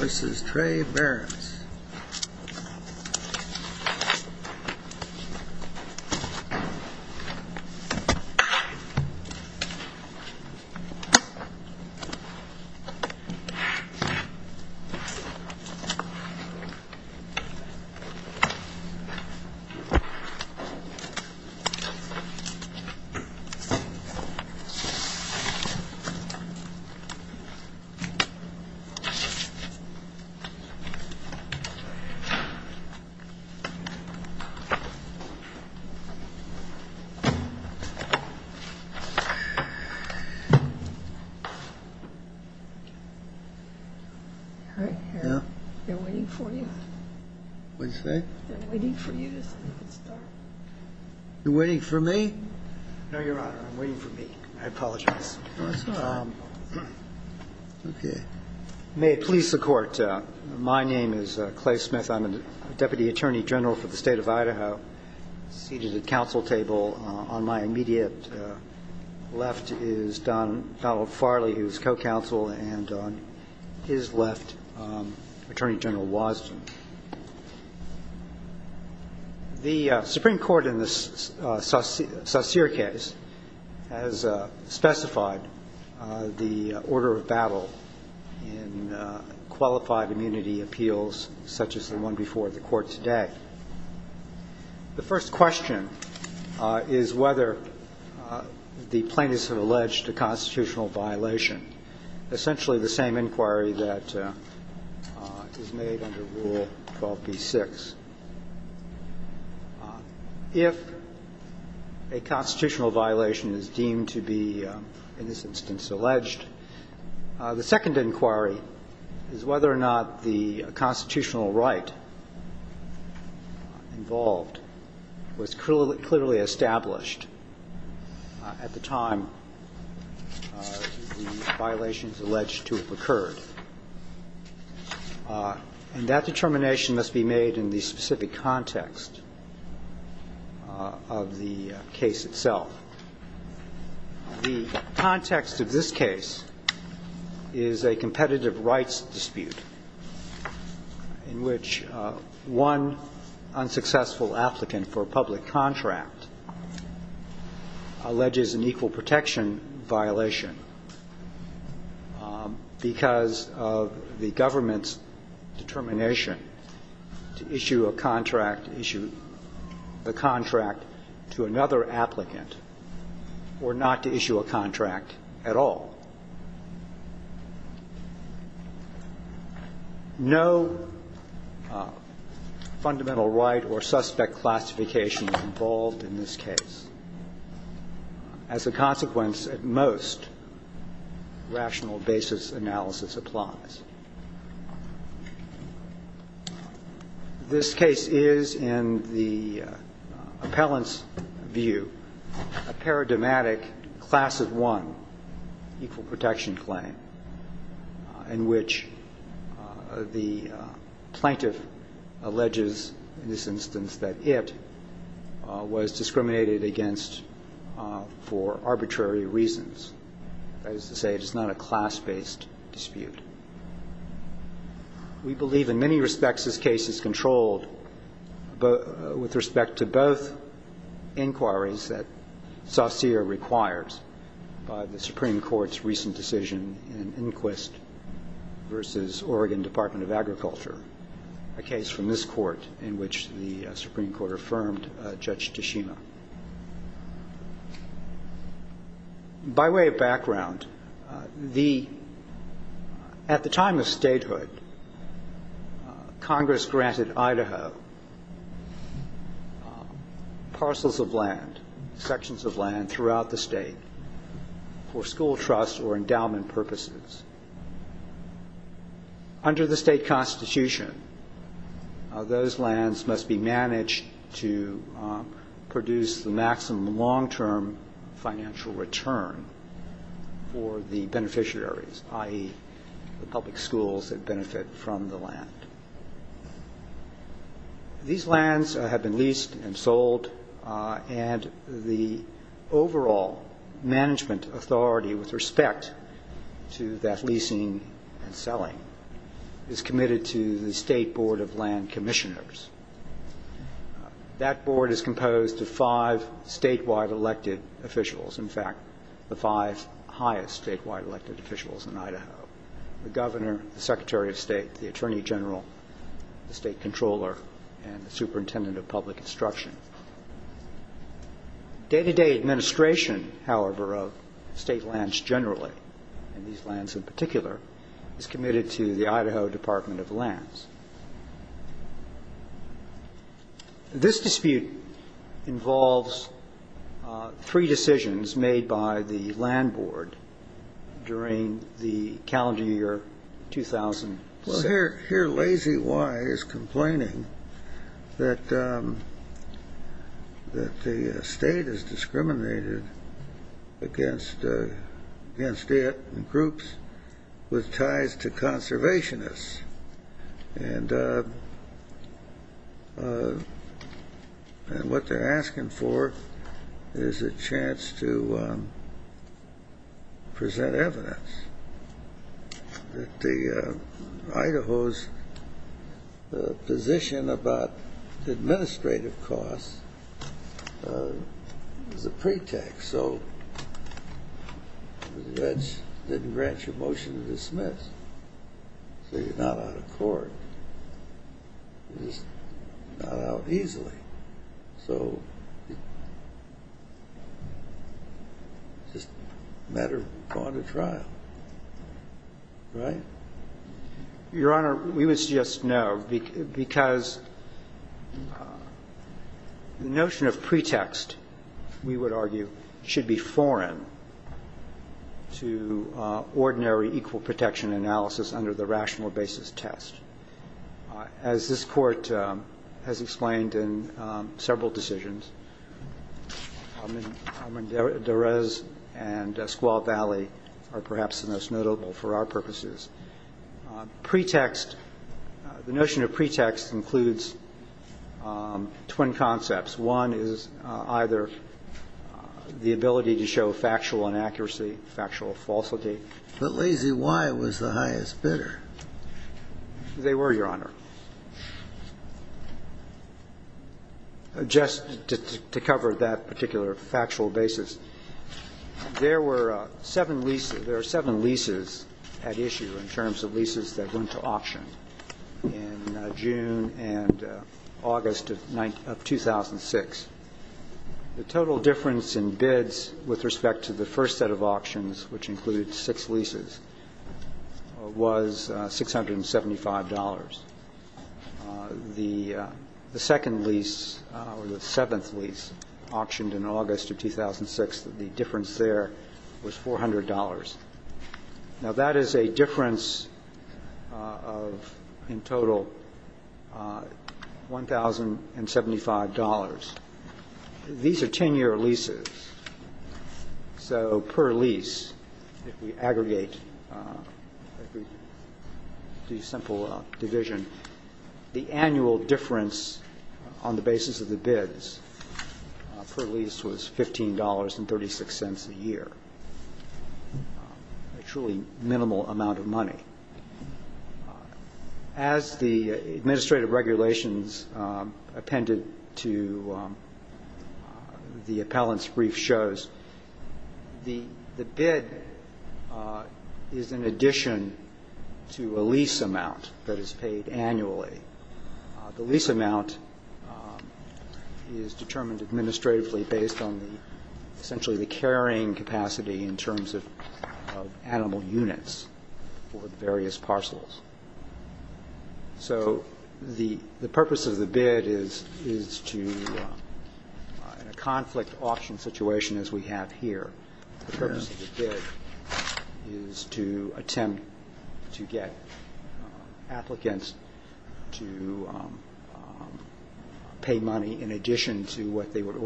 This is Trey Barrett's. They're waiting for you. What did you say? They're waiting for you to start. You're waiting for me? No, Your Honor, I'm waiting for me. I apologize. That's all right. Okay. May it please the Court. My name is Clay Smith. I'm a Deputy Attorney General for the State of Idaho, seated at council table. On my immediate left is Donald Farley, who is co-counsel, and on his left, Attorney General Wosden. The Supreme Court in the Saucere case has specified the order of battle in qualified immunity appeals such as the one before the Court today. The first question is whether the plaintiffs have alleged a constitutional violation, essentially the same inquiry that is made under Rule 12b-6. If a constitutional violation is deemed to be, in this instance, alleged, the second inquiry is whether or not the constitutional right involved was clearly established at the time the violation is alleged to have occurred. And that determination must be made in the specific context of the case itself. The context of this case is a competitive rights dispute in which one unsuccessful applicant for a public contract alleges an equal protection violation because of the government's determination to issue a contract, the contract to another applicant, or not to issue a contract at all. No fundamental right or suspect classification involved in this case. As a consequence, at most, rational basis analysis applies. This case is, in the appellant's view, a paradigmatic class of one equal protection claim in which the plaintiff alleges, in this instance, that it was discriminated against for arbitrary reasons. That is to say, it is not a class-based dispute. We believe in many respects this case is controlled with respect to both inquiries that Saucere requires by the Supreme Court's recent decision in Inquist v. Oregon Department of Agriculture, a case from this Court in which the Supreme Court affirmed Judge Tashima. By way of background, at the time of statehood, Congress granted Idaho parcels of land, sections of land throughout the state for school trust or endowment purposes. Under the state constitution, those lands must be managed to produce, the maximum long-term financial return for the beneficiaries, i.e., the public schools that benefit from the land. These lands have been leased and sold, and the overall management authority with respect to that leasing and selling is committed to the State Board of Land Commissioners. That board is composed of five statewide elected officials, in fact, the five highest statewide elected officials in Idaho, the governor, the secretary of state, the attorney general, the state controller, and the superintendent of public instruction. Day-to-day administration, however, of state lands generally, and these lands in particular, is committed to the Idaho Department of Lands. This dispute involves three decisions made by the land board during the calendar year 2007. Here, Lazy Y is complaining that the State has discriminated against it in groups with ties to conservationists, and what they're asking for is a chance to present evidence that Idaho's position about administrative costs is a pretext. So the judge didn't grant you a motion to dismiss, so you're not out of court. You're just not out easily. So it's just a matter of going to trial, right? Your Honor, we would suggest no, because the notion of pretext, we would argue, should be foreign to ordinary equal protection analysis under the rational basis test. As this Court has explained in several decisions, I mean, Derez and Squall Valley are perhaps the most notable for our purposes. Pretext, the notion of pretext includes twin concepts. One is either the ability to show factual inaccuracy, factual falsity. But Lazy Y was the highest bidder. They were, Your Honor. Just to cover that particular factual basis, there were seven leases at issue in terms of leases that went to auction in June and August of 2007. The total difference in bids with respect to the first set of auctions, which included six leases, was $675. The second lease or the seventh lease auctioned in August of 2006, the difference there was $400. Now, that is a difference of, in total, $1,075. These are 10-year leases. So per lease, if we aggregate the simple division, the annual difference on the basis of the bids per lease was $15.36 a year, a truly minimal amount of money. As the administrative regulations appended to the appellant's brief shows, the bid is in addition to a lease amount that is paid annually. The lease amount is determined administratively based on essentially the carrying capacity in terms of animal units for various parcels. So the purpose of the bid is to, in a conflict auction situation as we have here, the purpose of the bid is to attempt to get applicants to pay money in addition to what they would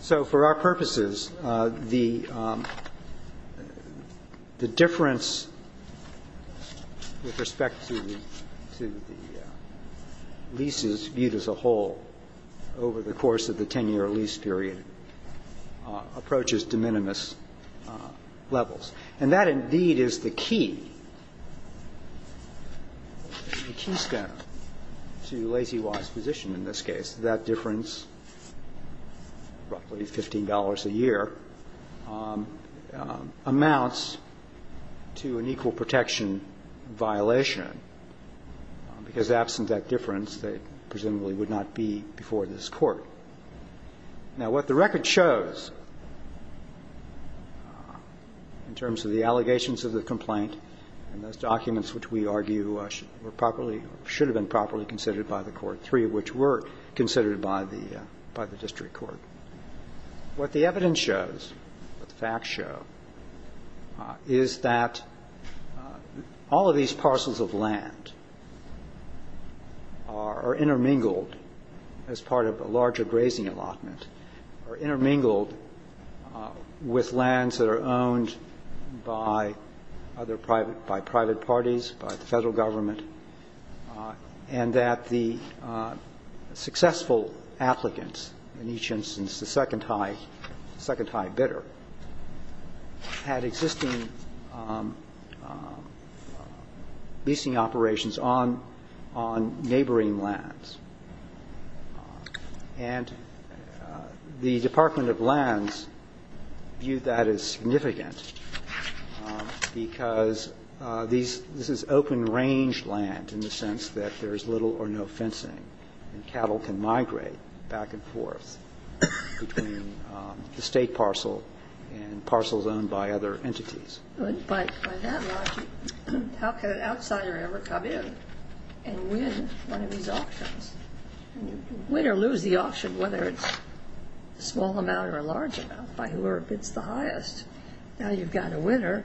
So for our purposes, the difference with respect to the leases viewed as a whole over the course of the 10-year lease period approaches de minimis levels. And that, indeed, is the key, the keystone to Lazy Y's position in this case, that difference, roughly $15 a year, amounts to an equal protection violation, because absent that difference, there presumably would not be before this Court. Now, what the record shows in terms of the allegations of the complaint and those documents which we argue were properly or should have been properly considered by the Court, three of which were considered by the district court, what the evidence shows, what the facts show, is that all of these parcels of land are intermingled as part of a larger grazing allotment, are intermingled with lands that are owned by private parties, by the Federal Government, and that the successful applicants in each instance, the second high bidder, had existing leasing operations on neighboring lands. And the Department of Lands viewed that as significant, and the Department of Lands viewed that as significant, because this is open-range land in the sense that there is little or no fencing, and cattle can migrate back and forth between the state parcel and parcels owned by other entities. But by that logic, how can an outsider ever come in and win one of these auctions? Win or lose the auction, whether it's a small amount or a large amount, by whoever wins, you've got a winner,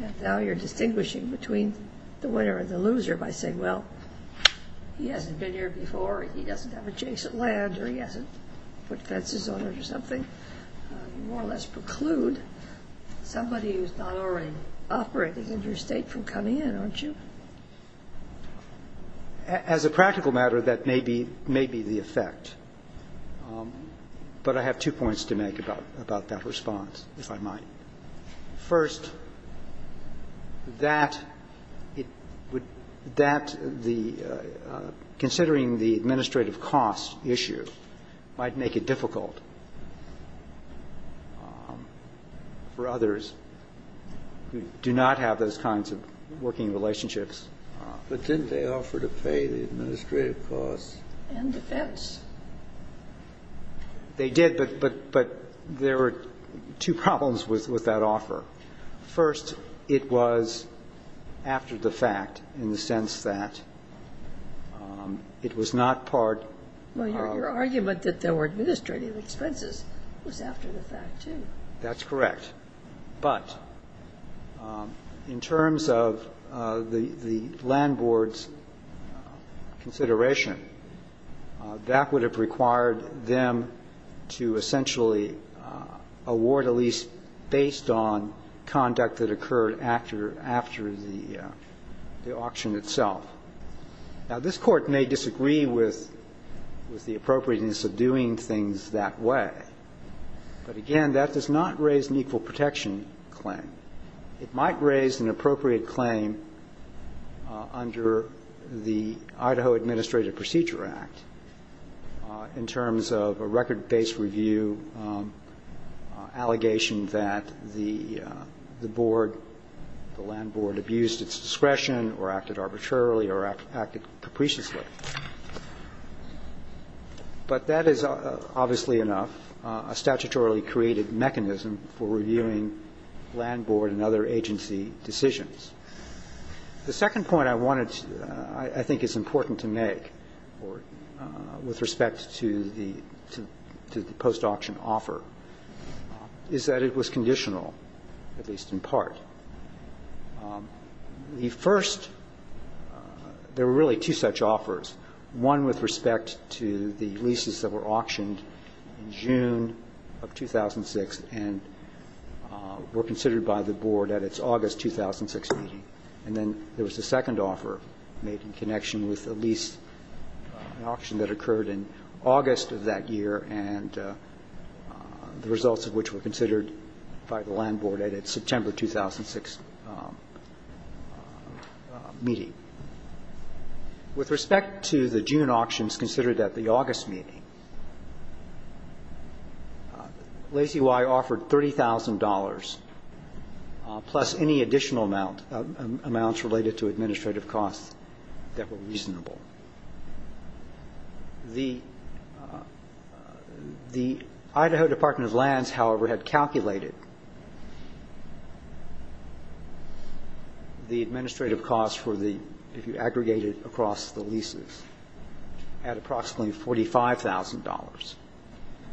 and now you're distinguishing between the winner and the loser by saying, well, he hasn't been here before, he doesn't have adjacent land, or he hasn't put fences on it or something, you more or less preclude somebody who's not already operating in your state from coming in, aren't you? As a practical matter, that may be the effect. But I have two points to make about that response, if I might. First, that it would – that the – considering the administrative cost issue might make it difficult for others who do not have those kinds of working relationships But didn't they offer to pay the administrative costs? And defense. They did, but there were two problems with that offer. First, it was after the fact in the sense that it was not part of – Well, your argument that there were administrative expenses was after the fact too. That's correct. But in terms of the land board's consideration, that would have required them to essentially award a lease based on conduct that occurred after the auction itself. Now, this Court may disagree with the appropriateness of doing things that way. But again, that does not raise an equal protection claim. It might raise an appropriate claim under the Idaho Administrative Procedure Act in terms of a record-based review allegation that the board, the land board, abused its discretion or acted arbitrarily or acted capriciously. But that is obviously enough a statutorily created mechanism for reviewing land board and other agency decisions. The second point I wanted to – I think is important to make with respect to the post-auction offer is that it was conditional, at least in part. The first – there were really two such offers, one with respect to the leases that were auctioned in June of 2006 and were considered by the board at its August 2006 meeting. And then there was a second offer made in connection with a lease, an auction that occurred in August of that year and the results of which were considered by the land board at its September 2006 meeting. With respect to the June auctions considered at the August meeting, Lazy Y offered $30,000 plus any additional amounts related to administrative costs that were reasonable. The Idaho Department of Lands, however, had calculated the administrative costs for the – if you aggregate it across the leases at approximately $45,000.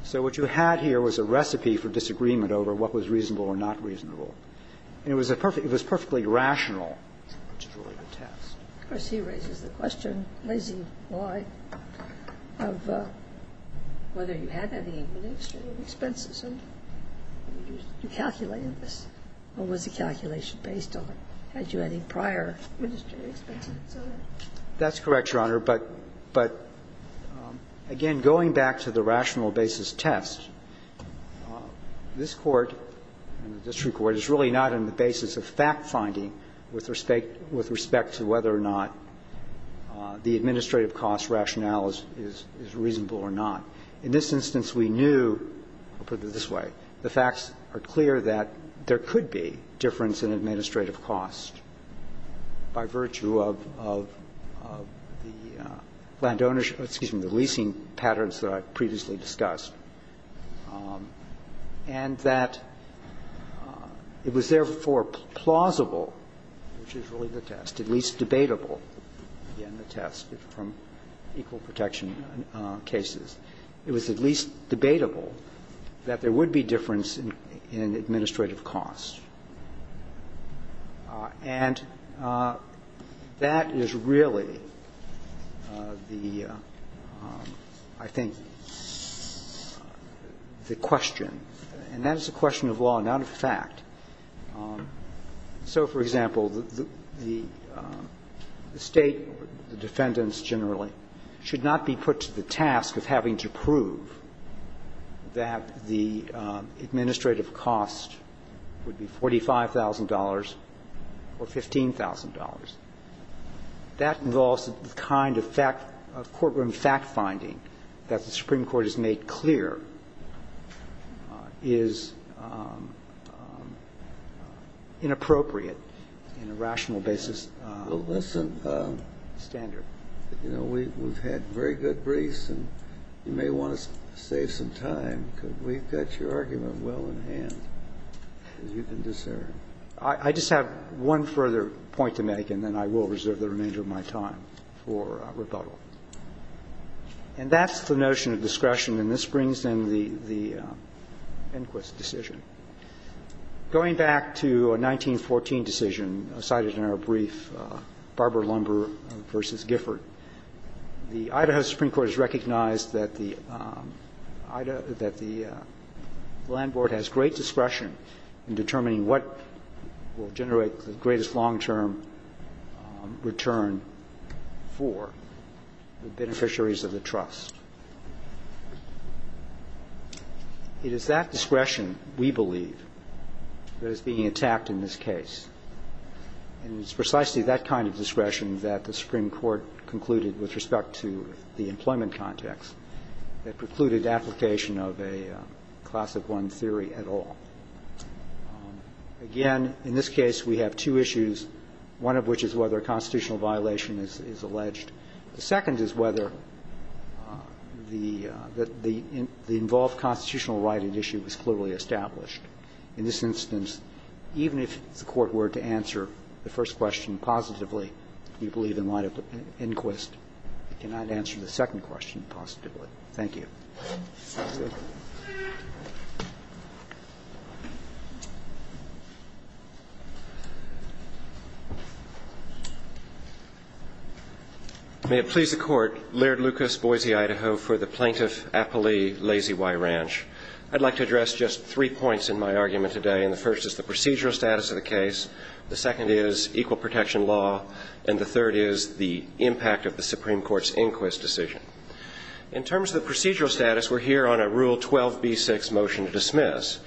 So what you had here was a recipe for disagreement over what was reasonable or not reasonable. And it was a perfect – it was perfectly rational, which is really the test. Of course, he raises the question, Lazy Y, of whether you had any administrative expenses and you calculated this. Or was the calculation based on had you any prior administrative expenses? That's correct, Your Honor. But, again, going back to the rational basis test, this Court and the district court is really not on the basis of fact-finding with respect to whether or not the administrative cost rationale is reasonable or not. In this instance, we knew – I'll put it this way. The facts are clear that there could be difference in administrative costs by virtue of the land ownership – excuse me, the leasing patterns that I previously discussed – and that it was therefore plausible, which is really the test, at least debatable in the test from equal protection cases. It was at least debatable that there would be difference in administrative costs. And that is really the, I think, the question. And that is a question of law, not of fact. So, for example, the State, the defendants generally, should not be put to the task of having to prove that the administrative cost would be $45,000 or $15,000. That involves the kind of fact – of courtroom fact-finding that the Supreme Court has made clear is inappropriate in a rational basis. Well, listen. Standard. You know, we've had very good briefs, and you may want to save some time, because we've got your argument well in hand, as you can discern. I just have one further point to make, and then I will reserve the remainder of my time for rebuttal. And that's the notion of discretion, and this brings in the Enquist decision. Going back to a 1914 decision cited in our brief, Barber-Lumber v. Gifford, the Idaho Supreme Court has recognized that the Idaho – that the land board has great discretion in determining what will generate the greatest long-term return for the beneficiaries of the trust. It is that discretion, we believe, that is being attacked in this case. And it's precisely that kind of discretion that the Supreme Court concluded with respect to the employment context that precluded application of a Class of One theory at all. Again, in this case, we have two issues, one of which is whether a constitutional violation is alleged. The second is whether the involved constitutional right at issue is clearly established. In this instance, even if the Court were to answer the first question positively, we believe in light of Enquist, it cannot answer the second question positively. Thank you. May it please the Court. Laird Lucas, Boise, Idaho, for the Plaintiff Appley Lazy Y Ranch. I'd like to address just three points in my argument today, and the first is the procedural status of the case, the second is equal protection law, and the third is the impact of the Supreme Court's Enquist decision. In terms of procedural status, we're here on a Rule 12b6 motion to dismiss.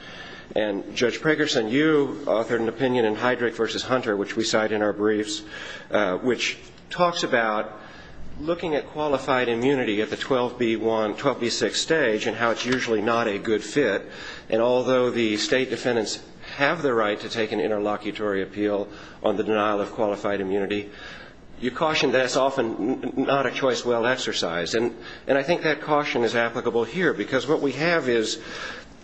And Judge Pragerson, you authored an opinion in Heydrich v. Hunter, which we cite in our briefs, which talks about looking at qualified immunity at the 12b6 stage and how it's usually not a good fit, and although the State defendants have the right to take an interlocutory appeal on the denial of qualified immunity, you caution that it's often not a choice well exercised. And I think that caution is applicable here, because what we have is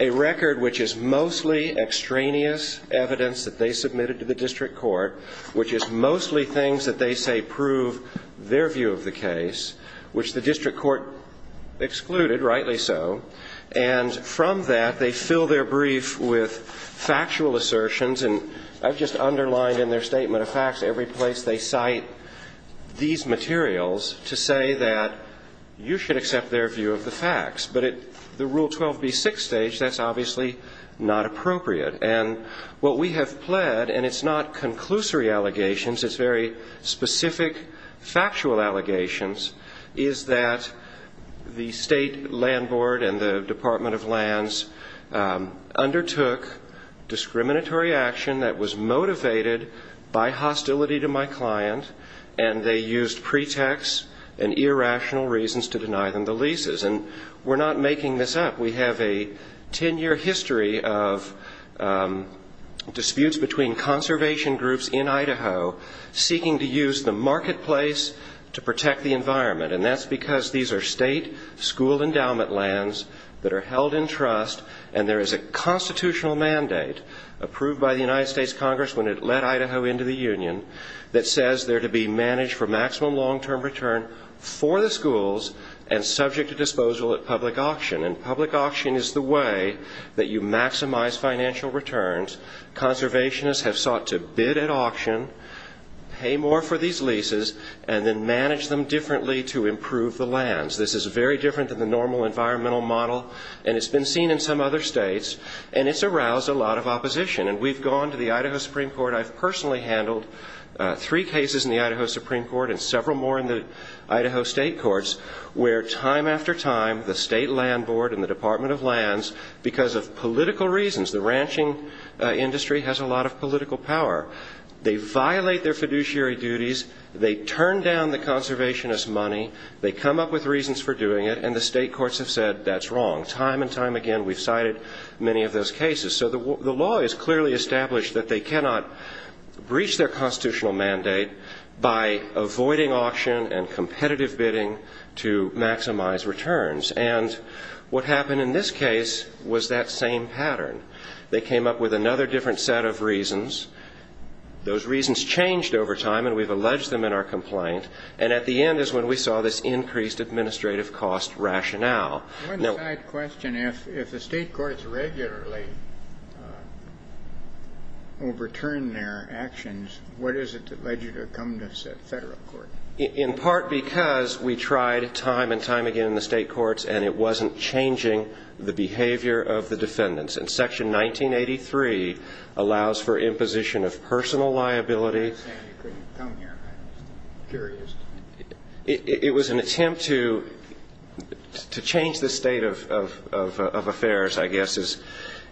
a record which is mostly extraneous evidence that they submitted to the District Court, which is mostly things that they say prove their view of the case, which the District Court excluded, rightly so, and from that, they fill their brief with factual assertions, and I've just underlined in their statement of facts every place they say that you should accept their view of the facts. But at the Rule 12b6 stage, that's obviously not appropriate. And what we have pled, and it's not conclusory allegations, it's very specific factual allegations, is that the State Land Board and the Department of Lands undertook discriminatory action that was motivated by hostility to my client, and they used pretexts and irrational reasons to deny them the leases. And we're not making this up. We have a ten-year history of disputes between conservation groups in Idaho seeking to use the marketplace to protect the environment, and that's because these are State school endowment lands that are held in trust, and there is a constitutional mandate approved by the United States Congress when it led Idaho into the union that says they're to be managed for maximum long-term return for the schools and subject to disposal at public auction. And public auction is the way that you maximize financial returns. Conservationists have sought to bid at auction, pay more for these leases, and then manage them differently to improve the lands. This is very different than the normal environmental model, and it's been seen in some other states, and it's aroused a lot of opposition. And we've gone to the Idaho Supreme Court. I've personally handled three cases in the Idaho Supreme Court and several more in the Idaho State Courts where time after time the State Land Board and the Department of Lands, because of political reasons, the ranching industry has a lot of political power, they violate their fiduciary duties, they turn down the conservationists' money, they come up with reasons for doing it, and the State Courts have said that's wrong. Time and time again we've cited many of those cases. So the law is clearly established that they cannot breach their constitutional mandate by avoiding auction and competitive bidding to maximize returns. And what happened in this case was that same pattern. They came up with another different set of reasons. Those reasons changed over time, and we've alleged them in our complaint. And at the end is when we saw this increased administrative cost rationale. One side question, if the State Courts regularly overturned their actions, what is it that led you to come to federal court? In part because we tried time and time again in the State Courts and it wasn't changing the behavior of the defendants. And Section 1983 allows for imposition of personal liability. I understand you couldn't come here. I'm just curious. It was an attempt to change the state of affairs, I guess, is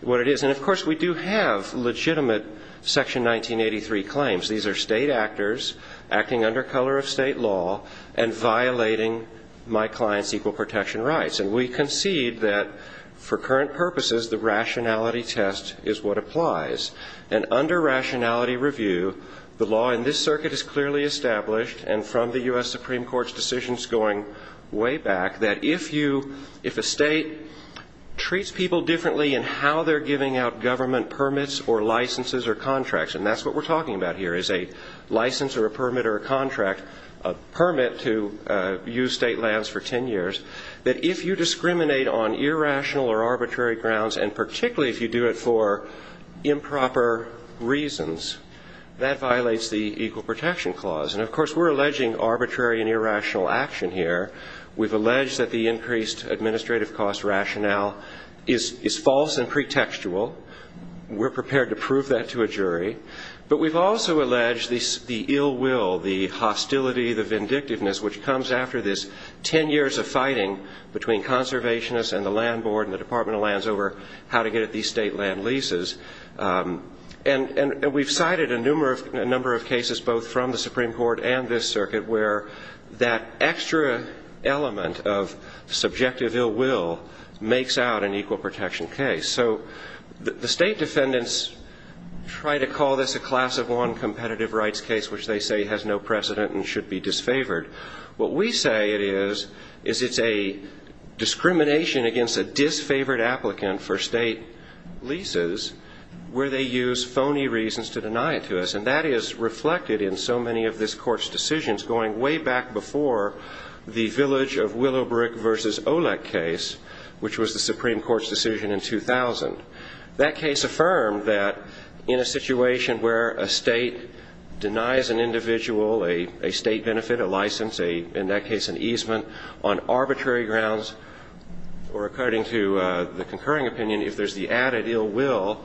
what it is. And, of course, we do have legitimate Section 1983 claims. These are State actors acting under color of State law and violating my client's equal protection rights. And we concede that for current purposes the rationality test is what applies. And under rationality review, the law in this circuit is clearly established and from the U.S. Supreme Court's decisions going way back, that if a state treats people differently in how they're giving out government permits or licenses or contracts, and that's what we're talking about here is a license or a permit or a contract, a permit to use state lands for ten years, that if you discriminate on irrational or arbitrary grounds, and particularly if you do it for improper reasons, that violates the Equal Protection Clause. And, of course, we're alleging arbitrary and irrational action here. We've alleged that the increased administrative cost rationale is false and pretextual. We're prepared to prove that to a jury. But we've also alleged the ill will, the hostility, the vindictiveness, which comes after this ten years of fighting between conservationists and the land board and the Department of Lands over how to get at these state land leases. And we've cited a number of cases both from the Supreme Court and this circuit where that extra element of subjective ill will makes out an equal protection case. So the state defendants try to call this a class of one competitive rights case, which they say has no precedent and should be disfavored. What we say it is is it's a discrimination against a disfavored applicant for state leases where they use phony reasons to deny it to us. And that is reflected in so many of this Court's decisions going way back before the Village of Willowbrook v. Olek case, which was the Supreme Court's decision in 2000. That case affirmed that in a situation where a state denies an individual a state benefit, a license, in that case an easement, on arbitrary grounds or according to the concurring opinion, if there's the added ill will,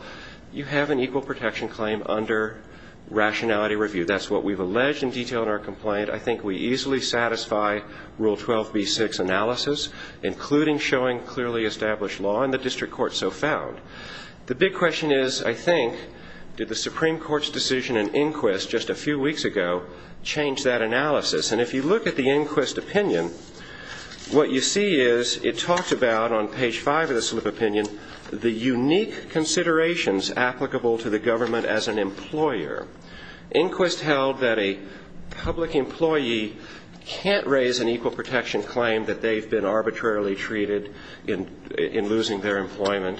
you have an equal protection claim under rationality review. That's what we've alleged in detail in our complaint. I think we easily satisfy Rule 12b-6 analysis, including showing clearly established law in the district court so found. The big question is, I think, did the Supreme Court's decision in inquest just a few weeks ago change that analysis? And if you look at the inquest opinion, what you see is it talks about on page five of the slip opinion the unique considerations applicable to the government as an employer. Inquest held that a public employee can't raise an equal protection claim that they've been arbitrarily treated in losing their employment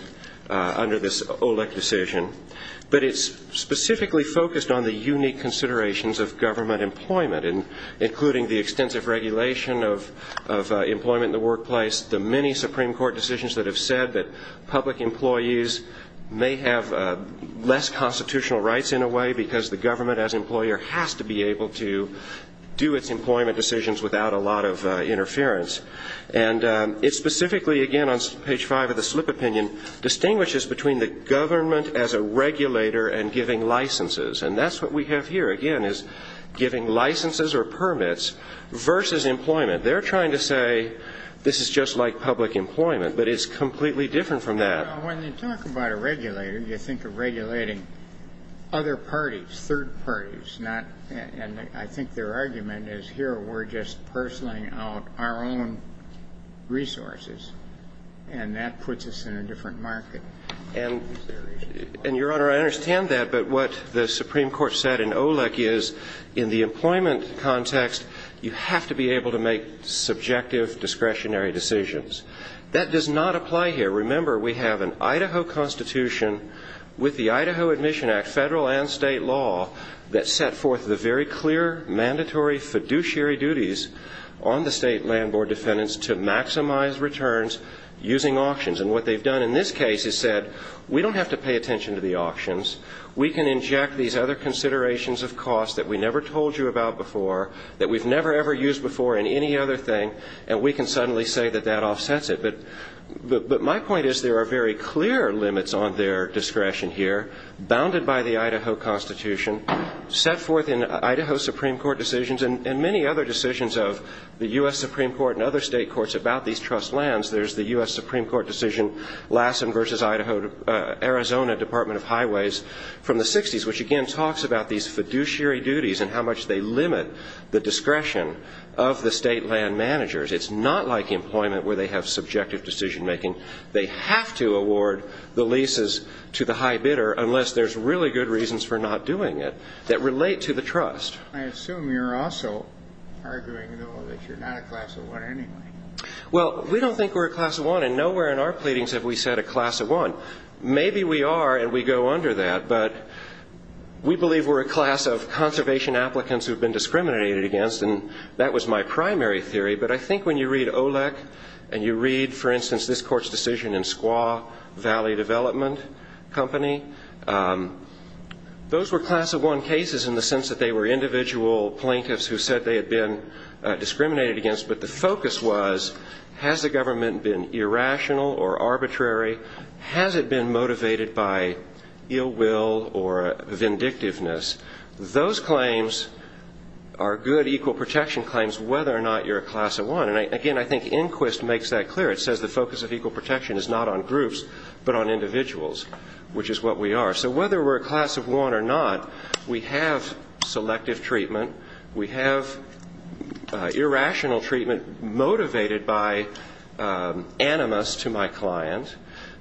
under this Olek decision. But it's specifically focused on the unique considerations of government employment, including the extensive regulation of employment in the workplace, the many Supreme Court decisions that have said that public employees may have less constitutional rights in a way because the government as employer has to be able to do its employment decisions without a lot of interference. And it specifically, again, on page five of the slip opinion, distinguishes between the government as a regulator and giving licenses. And that's what we have here, again, is giving licenses or permits versus employment. They're trying to say this is just like public employment, but it's completely different from that. Well, when you talk about a regulator, you think of regulating other parties, third parties, not ñ and I think their argument is here we're just pursling out our own resources, and that puts us in a different market. And, Your Honor, I understand that, but what the Supreme Court said in Olek is in the employment context, you have to be able to make subjective discretionary decisions. That does not apply here. Remember, we have an Idaho Constitution with the Idaho Admission Act, federal and state law, that set forth the very clear mandatory fiduciary duties on the state land board defendants to maximize returns using auctions. And what they've done in this case is said we don't have to pay attention to the auctions. We can inject these other considerations of cost that we never told you about before, that we've never, ever used before in any other thing, and we can suddenly say that that offsets it. But my point is there are very clear limits on their discretion here, bounded by the Idaho Constitution, set forth in Idaho Supreme Court decisions and many other decisions of the U.S. Supreme Court and other state courts about these Supreme Court decisions, Lassen v. Idaho, Arizona Department of Highways from the 60s, which again talks about these fiduciary duties and how much they limit the discretion of the state land managers. It's not like employment where they have subjective decision making. They have to award the leases to the high bidder unless there's really good reasons for not doing it that relate to the trust. I assume you're also arguing, though, that you're not a class of one anyway. Well, we don't think we're a class of one, and nowhere in our pleadings have we said a class of one. Maybe we are, and we go under that, but we believe we're a class of conservation applicants who have been discriminated against, and that was my primary theory. But I think when you read OLEC and you read, for instance, this court's decision in Squaw Valley Development Company, those were class of one cases in the sense that they were individual plaintiffs who said they had been discriminated against, but the focus was has the government been irrational or arbitrary? Has it been motivated by ill will or vindictiveness? Those claims are good equal protection claims whether or not you're a class of one, and again, I think Inquist makes that clear. It says the focus of equal protection is not on groups but on individuals, which is what we are. So whether we're a class of one or not, we have selective treatment. We have irrational treatment motivated by animus to my client,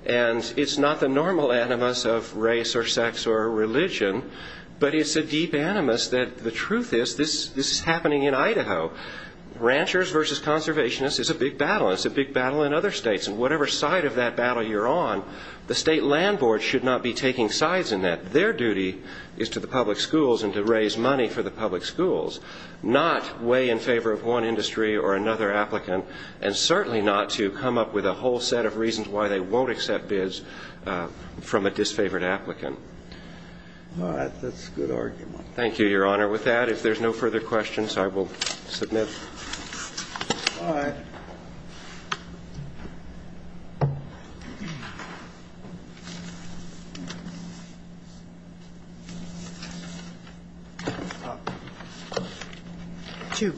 and it's not the normal animus of race or sex or religion, but it's a deep animus that the truth is this is happening in Idaho. Ranchers versus conservationists is a big battle. It's a big battle in other states, and whatever side of that battle you're on, the state land board should not be taking sides in that. Their duty is to the public schools and to raise money for the public schools, not weigh in favor of one industry or another applicant, and certainly not to come up with a whole set of reasons why they won't accept bids from a disfavored applicant. All right. That's a good argument. Thank you, Your Honor. With that, if there's no further questions, I will submit. All right.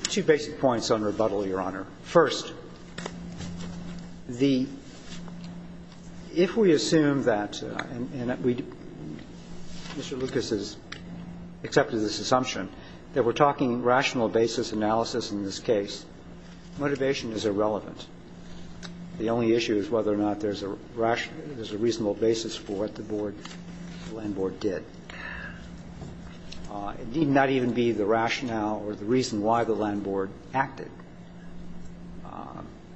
Two basic points on rebuttal, Your Honor. First, the ‑‑ if we assume that, and Mr. Lucas has accepted this assumption, that we're talking rational basis analysis in this case, motivation is irrelevant. The only issue is whether or not there's a rational ‑‑ there's a reasonable basis for what the board, the land board did. It need not even be the rationale or the reason why the land board acted.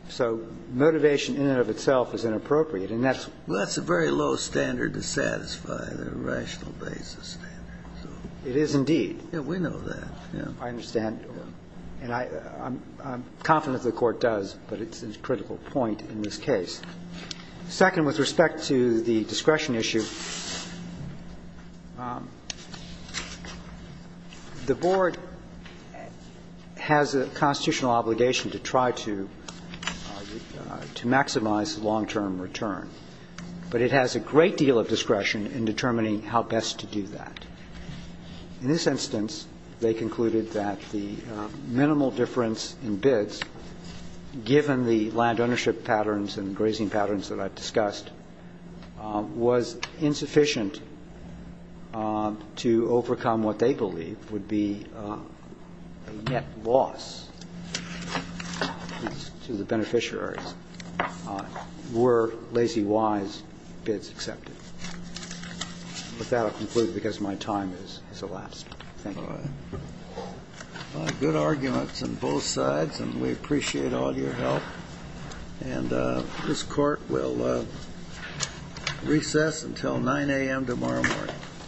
So motivation in and of itself is inappropriate, and that's ‑‑ Well, that's a very low standard to satisfy, the rational basis standard. It is indeed. Yeah, we know that, yeah. I understand. And I'm confident the Court does, but it's a critical point in this case. Second, with respect to the discretion issue, the board has a constitutional obligation to try to maximize long-term return, but it has a great deal of discretion in determining how best to do that. In this instance, they concluded that the minimal difference in bids, given the land ownership patterns and grazing patterns that I've discussed, was insufficient to overcome what they believe would be a net loss to the beneficiaries were Lazy Wise bids accepted. With that, I conclude because my time has elapsed. Thank you. All right. Good arguments on both sides, and we appreciate all your help. And this Court will recess until 9 a.m. tomorrow morning.